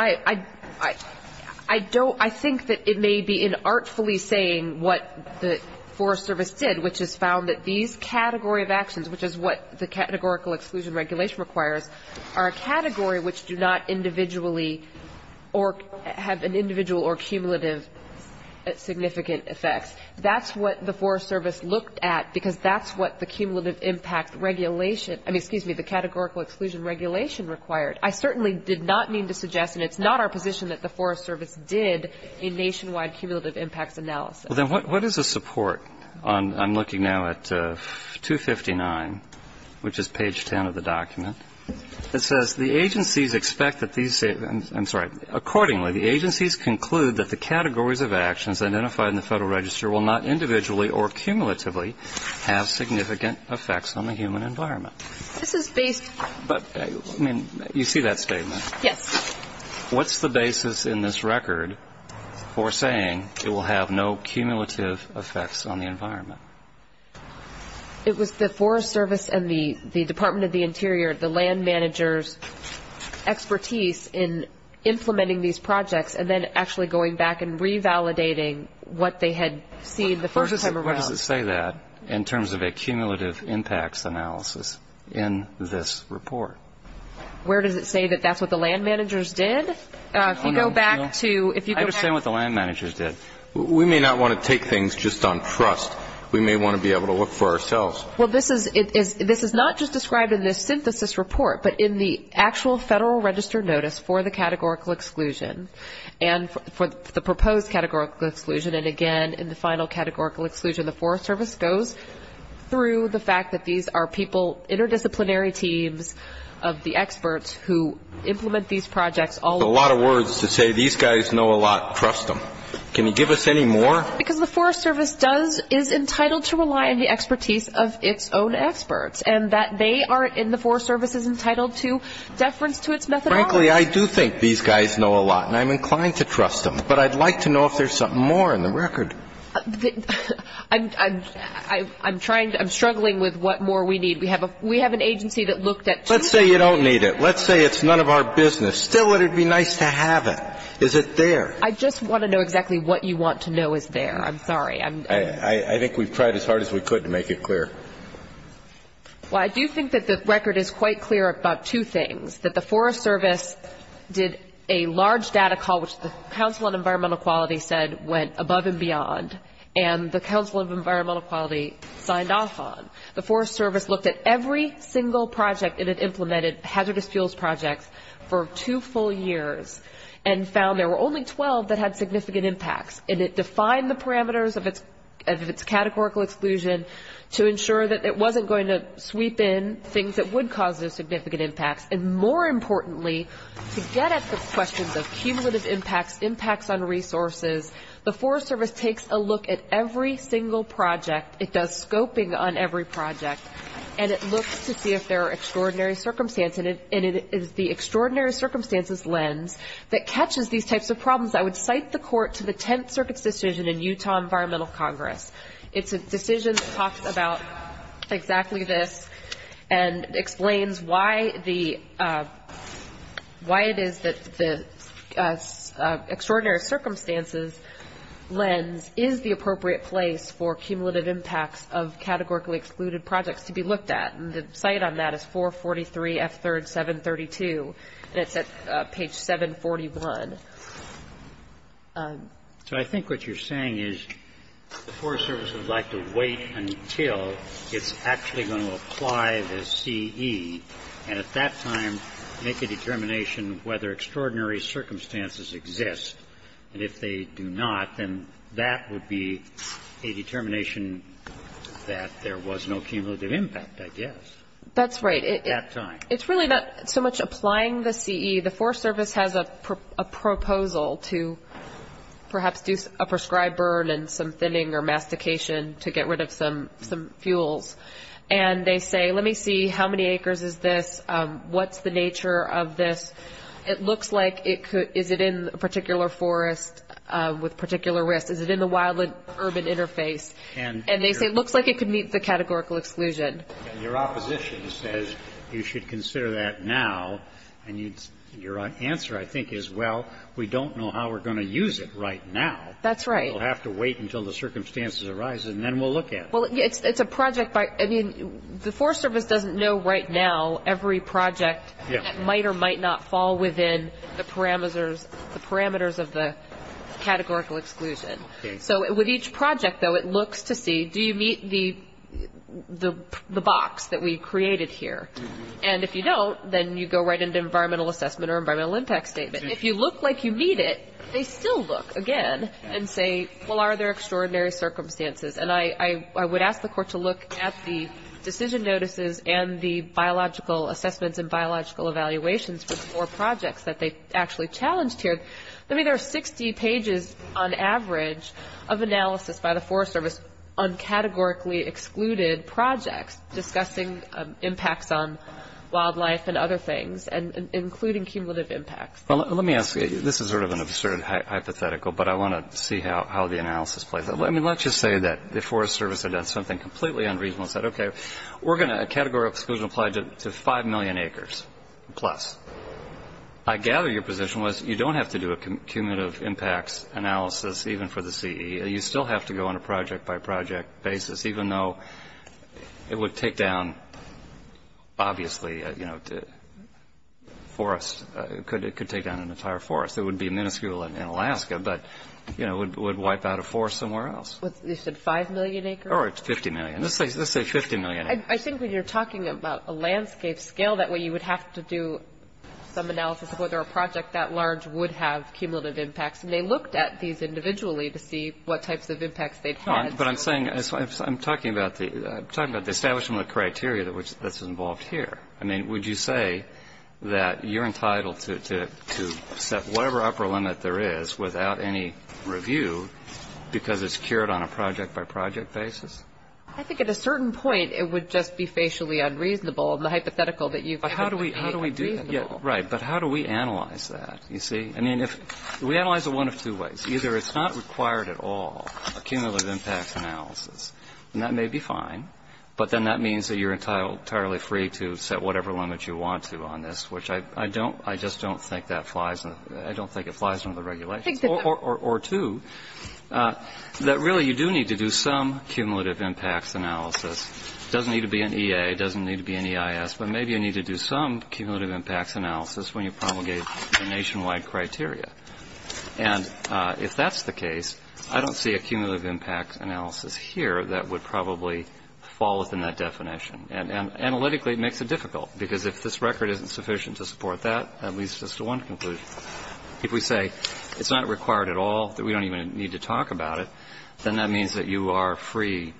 I don't, I think that it may be inartfully saying what the Forest Service did, which is found that these category of actions, which is what the categorical exclusion regulation requires, are a category which do not individually or have an individual or cumulative significant effects. That's what the Forest Service looked at, because that's what the cumulative impact regulation, I mean, excuse me, the categorical exclusion regulation required. I certainly did not mean to suggest, and it's not our position, that the Forest Service did a nationwide cumulative impacts analysis. Well, then what is the support? I'm looking now at 259, which is page 10 of the document. It says the agencies expect that these, I'm sorry, accordingly the agencies conclude that the categories of actions identified in the Federal Register will not individually or cumulatively have significant effects on the human environment. This is based. But, I mean, you see that statement. Yes. What's the basis in this record for saying it will have no cumulative effects on the environment? It was the Forest Service and the Department of the Interior, the land managers' expertise in implementing these projects and then actually going back and revalidating what they had seen the first time around. What does it say that in terms of a cumulative impacts analysis in this report? Where does it say that that's what the land managers did? If you go back to... I understand what the land managers did. We may not want to take things just on trust. We may want to be able to look for ourselves. Well, this is not just described in this synthesis report, but in the actual Federal Register notice for the categorical exclusion and for the proposed categorical exclusion. And, again, in the final categorical exclusion, the Forest Service goes through the fact that these are people, interdisciplinary teams of the experts who implement these projects. A lot of words to say these guys know a lot. Trust them. Can you give us any more? Because the Forest Service does, is entitled to rely on the expertise of its own experts, and that they are, in the Forest Service, is entitled to deference to its methodology. Frankly, I do think these guys know a lot, and I'm inclined to trust them. But I'd like to know if there's something more in the record. I'm trying to... I'm struggling with what more we need. We have an agency that looked at... Let's say you don't need it. Let's say it's none of our business. Still, it would be nice to have it. Is it there? I just want to know exactly what you want to know is there. I'm sorry. I think we've tried as hard as we could to make it clear. Well, I do think that the record is quite clear about two things, that the Forest Service did a large data call, which the Council on Environmental Quality said went above and beyond, and the Council of Environmental Quality signed off on. The Forest Service looked at every single project it had implemented, hazardous fuels projects, for two full years, and found there were only 12 that had significant impacts, and it defined the parameters of its categorical exclusion to ensure that it wasn't going to sweep in things that would cause those significant impacts. And more importantly, to get at the questions of cumulative impacts, impacts on resources, the Forest Service takes a look at every single project. It does scoping on every project, and it looks to see if there are extraordinary circumstances, and it is the extraordinary circumstances lens that catches these types of problems. I would cite the court to the 10th Circuit's decision in Utah Environmental Congress. It's a decision that talks about exactly this and explains why it is that the extraordinary circumstances lens is the appropriate place for cumulative impacts of categorically excluded projects to be looked at, and the site on that is 443 F3rd 732, and it's at page 741. So I think what you're saying is the Forest Service would like to wait until it's actually going to apply the CE, and at that time make a determination whether extraordinary circumstances exist. And if they do not, then that would be a determination that there was no cumulative impact, I guess. That's right. At that time. It's really not so much applying the CE. The Forest Service has a proposal to perhaps do a prescribed burn and some thinning or mastication to get rid of some fuels. And they say, let me see, how many acres is this? What's the nature of this? It looks like it could, is it in a particular forest with particular risks? Is it in the wild and urban interface? And they say it looks like it could meet the categorical exclusion. And your opposition says you should consider that now, and your answer, I think, is, well, we don't know how we're going to use it right now. That's right. We'll have to wait until the circumstances arise, and then we'll look at it. Well, it's a project by, I mean, the Forest Service doesn't know right now every project that might or might not fall within the parameters of the categorical exclusion. So with each project, though, it looks to see, do you meet the box that we created here? And if you don't, then you go right into environmental assessment or environmental impact statement. If you look like you meet it, they still look again and say, well, are there extraordinary circumstances? And I would ask the court to look at the decision notices and the biological assessments and biological evaluations for the four projects that they actually challenged here. I mean, there are 60 pages on average of analysis by the Forest Service on categorically excluded projects discussing impacts on wildlife and other things, including cumulative impacts. Well, let me ask you, this is sort of an absurd hypothetical, but I want to see how the analysis plays out. I mean, let's just say that the Forest Service had done something completely unreasonable and said, okay, we're going to categorical exclusion applied to 5 million acres plus. I gather your position was you don't have to do a cumulative impacts analysis even for the CE. You still have to go on a project-by-project basis, even though it would take down, obviously, you know, forests. It could take down an entire forest. It would be minuscule in Alaska, but, you know, it would wipe out a forest somewhere else. You said 5 million acres? Or 50 million. Let's say 50 million acres. I think when you're talking about a landscape scale, that way you would have to do some analysis of whether a project that large would have cumulative impacts. And they looked at these individually to see what types of impacts they had. But I'm saying, I'm talking about the establishment of the criteria that's involved here. I mean, would you say that you're entitled to set whatever upper limit there is without any review because it's cured on a project-by-project basis? I think at a certain point it would just be facially unreasonable, and the hypothetical that you've given would be unreasonable. Right. But how do we analyze that, you see? I mean, we analyze it one of two ways. Either it's not required at all, a cumulative impacts analysis. And that may be fine. But then that means that you're entirely free to set whatever limit you want to on this, which I don't, I just don't think that flies, I don't think it flies under the regulations. Or two, that really you do need to do some cumulative impacts analysis. It doesn't need to be an EA. It doesn't need to be an EIS. But maybe you need to do some cumulative impacts analysis when you promulgate the nationwide criteria. And if that's the case, I don't see a cumulative impacts analysis here that would probably fall within that definition. And analytically it makes it difficult, because if this record isn't sufficient to support that, that leads us to one conclusion. If we say it's not required at all, that we don't even need to talk about it, then that means that you are free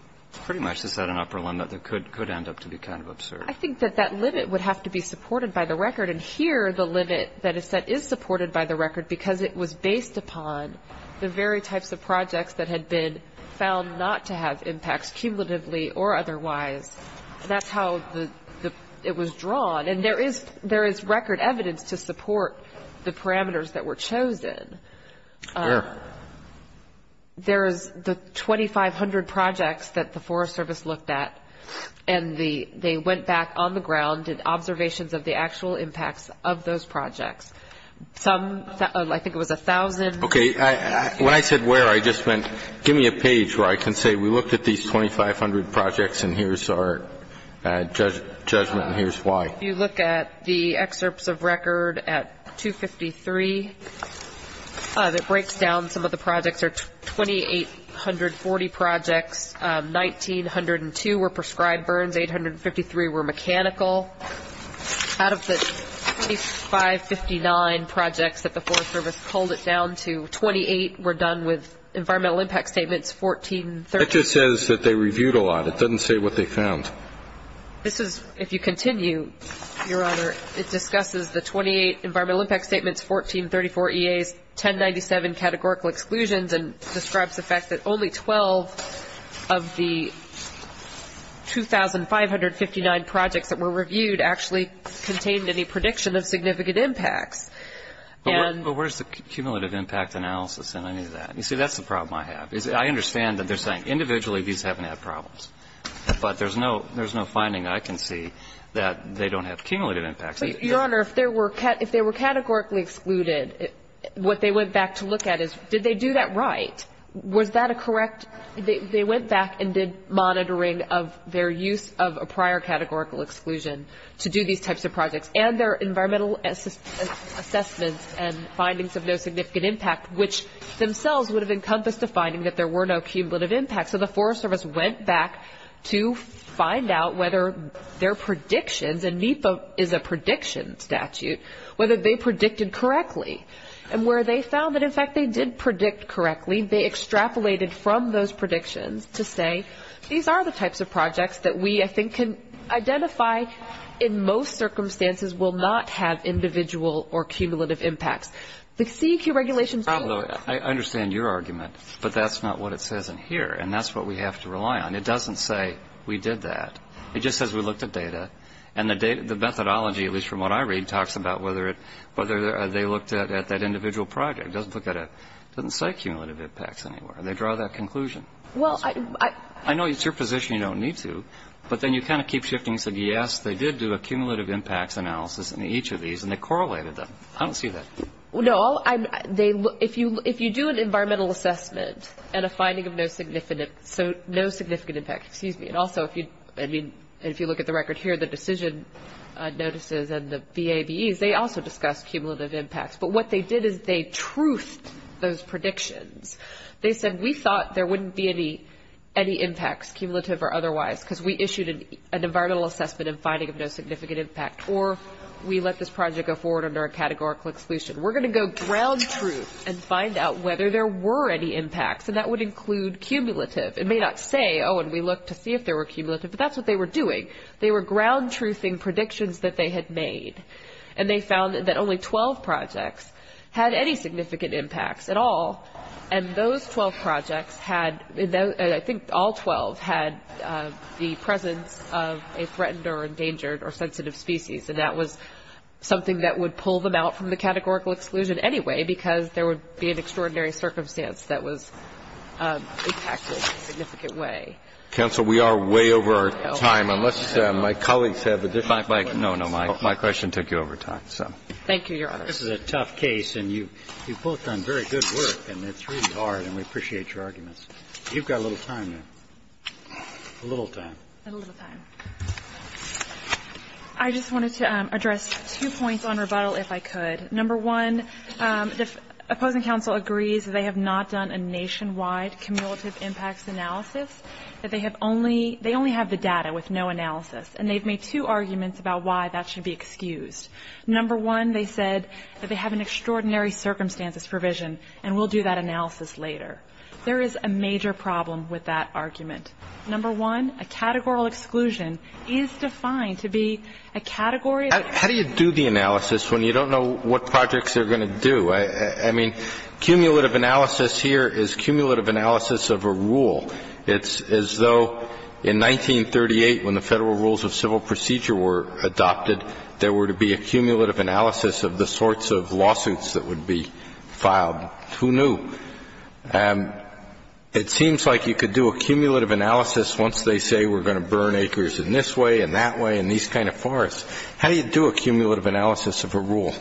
pretty much to set an upper limit that could end up to be kind of absurd. I think that that limit would have to be supported by the record. And here the limit that is set is supported by the record because it was based upon the very types of projects that had been found not to have impacts cumulatively or otherwise. That's how it was drawn. And there is record evidence to support the parameters that were chosen. Sure. There is the 2,500 projects that the Forest Service looked at, and they went back on the ground, did observations of the actual impacts of those projects. Some, I think it was 1,000. Okay. When I said where, I just meant give me a page where I can say we looked at these 2,500 projects and here's our judgment and here's why. If you look at the excerpts of record at 253, it breaks down some of the projects are 2,840 projects, 1,902 were prescribed burns, 853 were mechanical. Out of the 2,559 projects that the Forest Service pulled it down to, 28 were done with environmental impact statements, 1430. It just says that they reviewed a lot. It doesn't say what they found. This is, if you continue, Your Honor, it discusses the 28 environmental impact statements, 1434 EAs, 1097 categorical exclusions, and describes the fact that only 12 of the 2,559 projects that were reviewed actually contained any prediction of significant impacts. But where's the cumulative impact analysis in any of that? You see, that's the problem I have. I understand that they're saying individually these haven't had problems, but there's no finding I can see that they don't have cumulative impacts. But, Your Honor, if they were categorically excluded, what they went back to look at is did they do that right? Was that a correct? They went back and did monitoring of their use of a prior categorical exclusion to do these types of projects, and their environmental assessments and findings of no significant impact, which themselves would have encompassed a finding that there were no cumulative impacts. So the Forest Service went back to find out whether their predictions, and NEPA is a prediction statute, whether they predicted correctly. And where they found that, in fact, they did predict correctly, they extrapolated from those predictions to say, these are the types of projects that we, I think, can identify in most circumstances will not have individual or cumulative impacts. The CEQ regulations. I understand your argument, but that's not what it says in here. And that's what we have to rely on. It doesn't say we did that. It just says we looked at data. And the methodology, at least from what I read, talks about whether they looked at that individual project. It doesn't say cumulative impacts anywhere. They draw that conclusion. I know it's your position you don't need to, but then you kind of keep shifting and say, yes, they did do a cumulative impacts analysis in each of these, and they correlated them. I don't see that. Well, no, if you do an environmental assessment and a finding of no significant impact, and also if you look at the record here, the decision notices and the BABEs, they also discuss cumulative impacts. But what they did is they truthed those predictions. They said we thought there wouldn't be any impacts, cumulative or otherwise, because we issued an environmental assessment and finding of no significant impact, or we let this project go forward under a categorical exclusion. We're going to go ground truth and find out whether there were any impacts, and that would include cumulative. It may not say, oh, and we looked to see if there were cumulative, but that's what they were doing. They were ground truthing predictions that they had made, and they found that only 12 projects had any significant impacts at all, and those 12 projects had, I think all 12, had the presence of a threatened or endangered or sensitive species. And that was something that would pull them out from the categorical exclusion anyway because there would be an extraordinary circumstance that was impacted in a significant way. Counsel, we are way over our time. Unless my colleagues have a different question. No, no. My question took you over time, so. Thank you, Your Honor. This is a tough case, and you've both done very good work, and it's really hard, and we appreciate your arguments. You've got a little time now. A little time. A little time. I just wanted to address two points on rebuttal, if I could. Number one, the opposing counsel agrees that they have not done a nationwide cumulative impacts analysis, that they have only they only have the data with no analysis, and they've made two arguments about why that should be excused. Number one, they said that they have an extraordinary circumstances provision and will do that analysis later. There is a major problem with that argument. Number one, a categorical exclusion is defined to be a category of. How do you do the analysis when you don't know what projects they're going to do? I mean, cumulative analysis here is cumulative analysis of a rule. It's as though in 1938 when the Federal Rules of Civil Procedure were adopted, there were to be a cumulative analysis of the sorts of lawsuits that would be filed. Who knew? It seems like you could do a cumulative analysis once they say we're going to burn acres in this way and that way and these kind of forests. How do you do a cumulative analysis of a rule?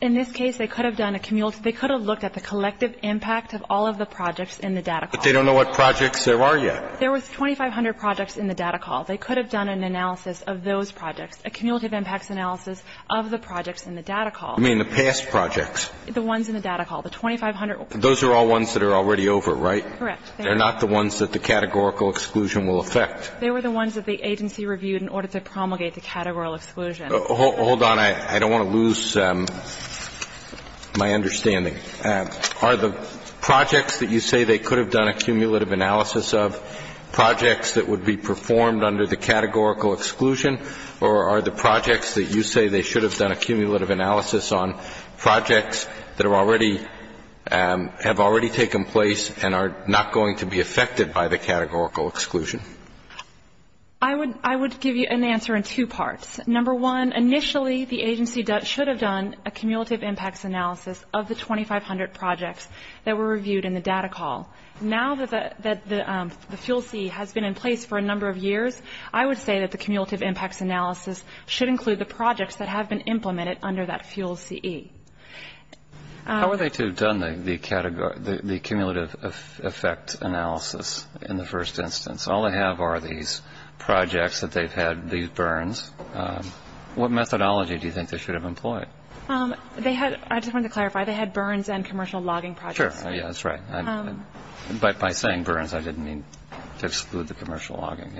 In this case, they could have done a cumulative. They could have looked at the collective impact of all of the projects in the data call. But they don't know what projects there are yet. There was 2,500 projects in the data call. They could have done an analysis of those projects, a cumulative impacts analysis of the projects in the data call. You mean the past projects? The ones in the data call. The 2,500. Those are all ones that are already over, right? Correct. They're not the ones that the categorical exclusion will affect. They were the ones that the agency reviewed in order to promulgate the categorical exclusion. Hold on. I don't want to lose my understanding. Are the projects that you say they could have done a cumulative analysis of projects that would be performed under the categorical exclusion, or are the projects that you say they should have done a cumulative analysis on projects that have already taken place and are not going to be affected by the categorical exclusion? I would give you an answer in two parts. Number one, initially the agency should have done a cumulative impacts analysis of the 2,500 projects that were reviewed in the data call. Now that the FUEL-C has been in place for a number of years, I would say that the cumulative impacts analysis should include the projects that have been implemented under that FUEL-CE. How are they to have done the cumulative effect analysis in the first instance? All they have are these projects that they've had these burns. What methodology do you think they should have employed? I just wanted to clarify. They had burns and commercial logging projects. Sure. That's right. By saying burns, I didn't mean to exclude the commercial logging.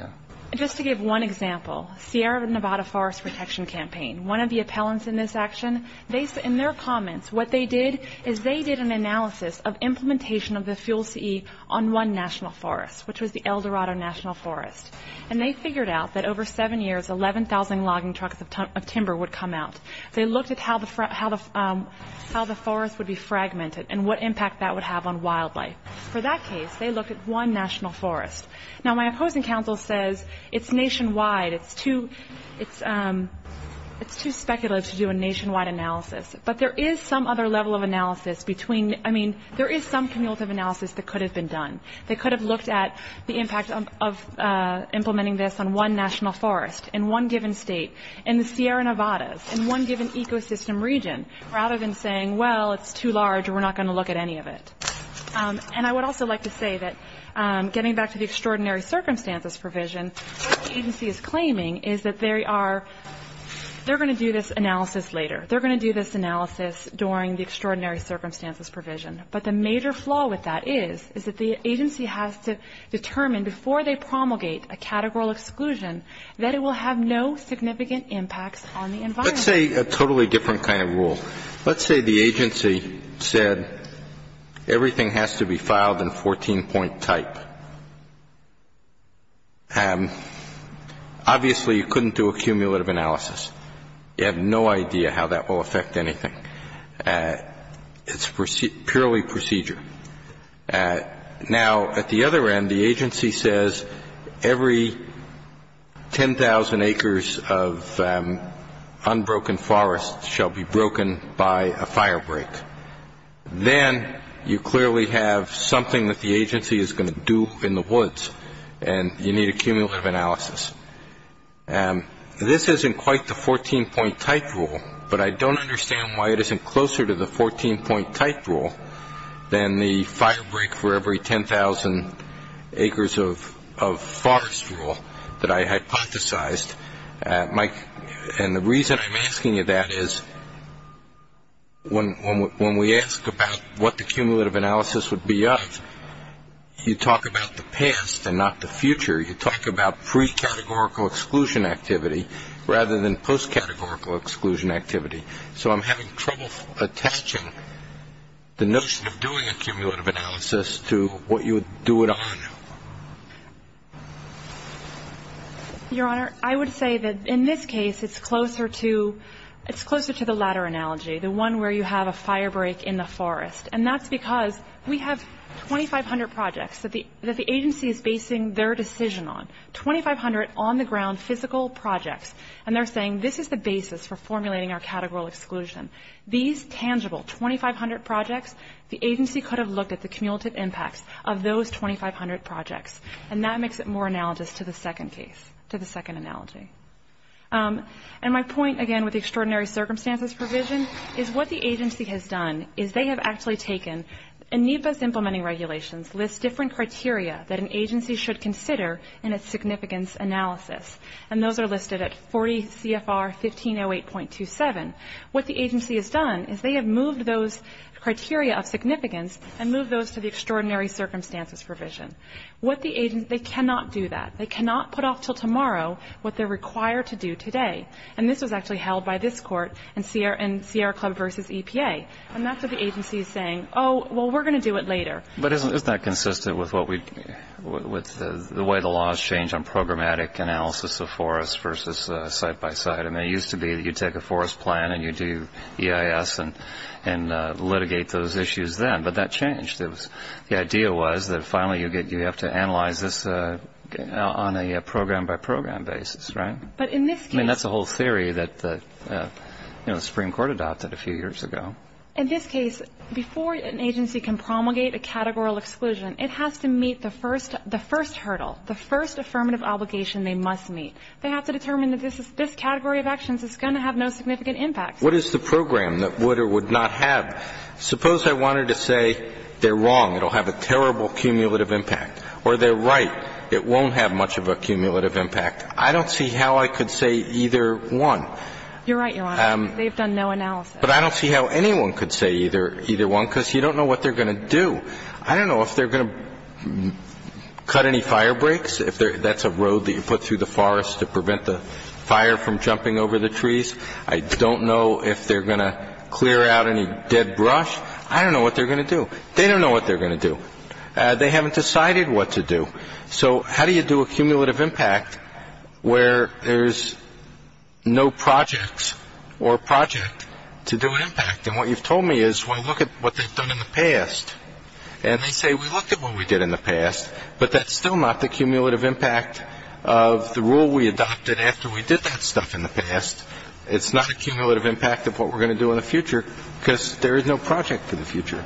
Just to give one example, Sierra Nevada Forest Protection Campaign, one of the appellants in this action, in their comments, what they did is they did an analysis of implementation of the FUEL-CE on one national forest, which was the El Dorado National Forest. And they figured out that over seven years, 11,000 logging trucks of timber would come out. They looked at how the forest would be fragmented and what impact that would have on wildlife. For that case, they looked at one national forest. Now, my opposing counsel says it's nationwide. It's too speculative to do a nationwide analysis. But there is some other level of analysis between, I mean, there is some cumulative analysis that could have been done. They could have looked at the impact of implementing this on one national forest in one given state, in the Sierra Nevadas, in one given ecosystem region, rather than saying, well, it's too large and we're not going to look at any of it. And I would also like to say that getting back to the extraordinary circumstances provision, what the agency is claiming is that there are they're going to do this analysis later. They're going to do this analysis during the extraordinary circumstances provision. But the major flaw with that is, is that the agency has to determine before they promulgate a categorical exclusion that it will have no significant impacts on the environment. Let's say a totally different kind of rule. Let's say the agency said everything has to be filed in 14-point type. Obviously, you couldn't do a cumulative analysis. You have no idea how that will affect anything. It's purely procedure. Now, at the other end, the agency says every 10,000 acres of unbroken forest shall be broken by a fire break. Then you clearly have something that the agency is going to do in the woods, and you need a cumulative analysis. This isn't quite the 14-point type rule, but I don't understand why it isn't closer to the 14-point type rule than the fire break for every 10,000 acres of forest rule that I hypothesized. And the reason I'm asking you that is when we ask about what the cumulative analysis would be of, you talk about the past and not the future. You talk about pre-categorical exclusion activity rather than post-categorical exclusion activity. So I'm having trouble attaching the notion of doing a cumulative analysis to what you would do it on. Your Honor, I would say that in this case it's closer to the latter analogy, the one where you have a fire break in the forest. And that's because we have 2,500 projects that the agency is basing their decision on, 2,500 on-the-ground physical projects, and they're saying this is the basis for formulating our categorical exclusion. These tangible 2,500 projects, the agency could have looked at the cumulative impacts of those 2,500 projects, and that makes it more analogous to the second case, to the second analogy. And my point, again, with the extraordinary circumstances provision, is what the agency has done is they have actually taken, and NEPA's implementing regulations list different criteria that an agency should consider in a significance analysis. And those are listed at 40 CFR 1508.27. What the agency has done is they have moved those criteria of significance and moved those to the extraordinary circumstances provision. What the agency, they cannot do that. They cannot put off until tomorrow what they're required to do today. And this was actually held by this court in Sierra Club v. EPA. And that's what the agency is saying, oh, well, we're going to do it later. But isn't that consistent with the way the laws change on programmatic analysis of forests versus site-by-site? I mean, it used to be that you'd take a forest plan and you'd do EIS and litigate those issues then, but that changed. The idea was that finally you have to analyze this on a program-by-program basis, right? But in this case — I mean, that's a whole theory that the Supreme Court adopted a few years ago. In this case, before an agency can promulgate a categorical exclusion, it has to meet the first hurdle, the first affirmative obligation they must meet. They have to determine that this category of actions is going to have no significant impact. What is the program that would or would not have? Suppose I wanted to say they're wrong, it'll have a terrible cumulative impact, or they're right, it won't have much of a cumulative impact. I don't see how I could say either one. You're right, Your Honor. They've done no analysis. But I don't see how anyone could say either one because you don't know what they're going to do. I don't know if they're going to cut any fire breaks, if that's a road that you put through the forest to prevent the fire from jumping over the trees. I don't know if they're going to clear out any dead brush. I don't know what they're going to do. They don't know what they're going to do. They haven't decided what to do. So how do you do a cumulative impact where there's no projects or project to do an impact? And what you've told me is, well, look at what they've done in the past. And they say, we looked at what we did in the past, but that's still not the cumulative impact of the rule we adopted after we did that stuff in the past. It's not a cumulative impact of what we're going to do in the future because there is no project for the future.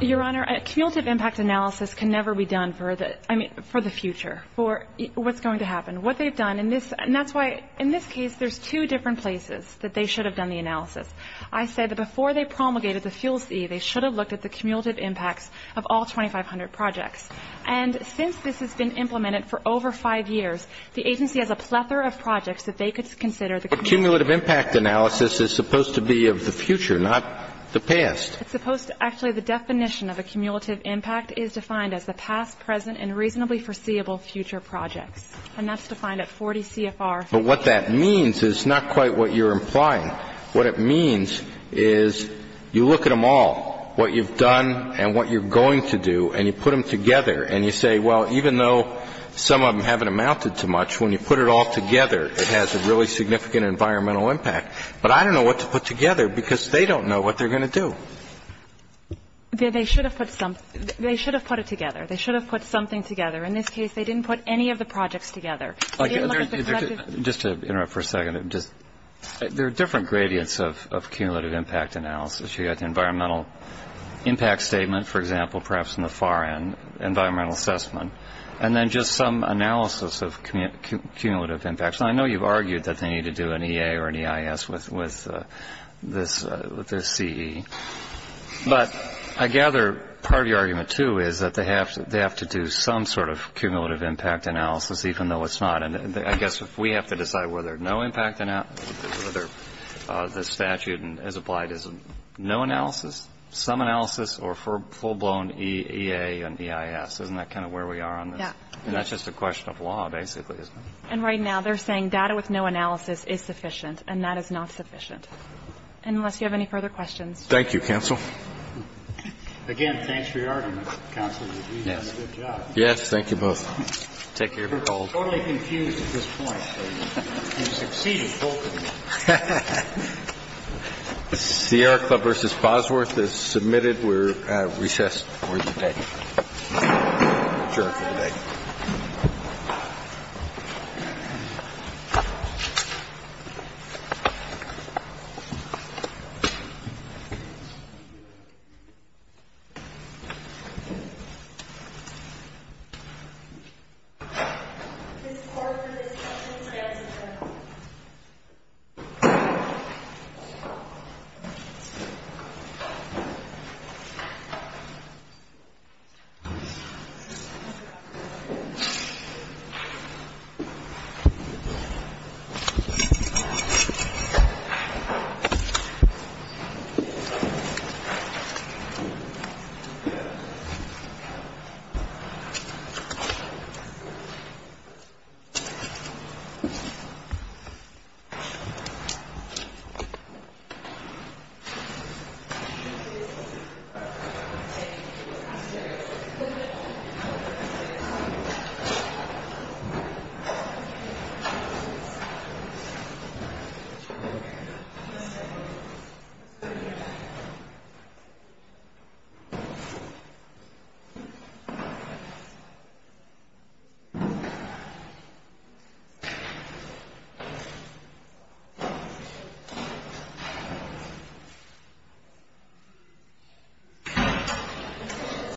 Your Honor, a cumulative impact analysis can never be done for the future, for what's going to happen, what they've done. And that's why in this case there's two different places that they should have done the analysis. I say that before they promulgated the Fuel C, they should have looked at the cumulative impacts of all 2,500 projects. And since this has been implemented for over five years, the agency has a plethora of projects that they could consider. But cumulative impact analysis is supposed to be of the future, not the past. Actually, the definition of a cumulative impact is defined as the past, present, and reasonably foreseeable future projects. And that's defined at 40 CFR. But what that means is not quite what you're implying. What it means is you look at them all, what you've done and what you're going to do, and you put them together and you say, well, even though some of them haven't amounted to much, when you put it all together, it has a really significant environmental impact. But I don't know what to put together because they don't know what they're going to do. They should have put something. They should have put it together. They should have put something together. In this case, they didn't put any of the projects together. Just to interrupt for a second, there are different gradients of cumulative impact analysis. You've got the environmental impact statement, for example, perhaps in the far end, environmental assessment, and then just some analysis of cumulative impacts. And I know you've argued that they need to do an EA or an EIS with this CE. The issue is that they have to do some sort of cumulative impact analysis, even though it's not. I guess we have to decide whether no impact analysis, whether the statute as applied is no analysis, some analysis, or full-blown EA and EIS. Isn't that kind of where we are on this? Yeah. That's just a question of law, basically, isn't it? And right now, they're saying data with no analysis is sufficient, and that is not sufficient. And unless you have any further questions. Thank you, counsel. Again, thanks for your argument, counsel. You've done a good job. Yes. Thank you both. Take care. We're totally confused at this point. You've succeeded both of you. CR Club v. Bosworth is submitted. We're recessed for the day. adjourned for the day. adjourned for the day. adjourned for the day.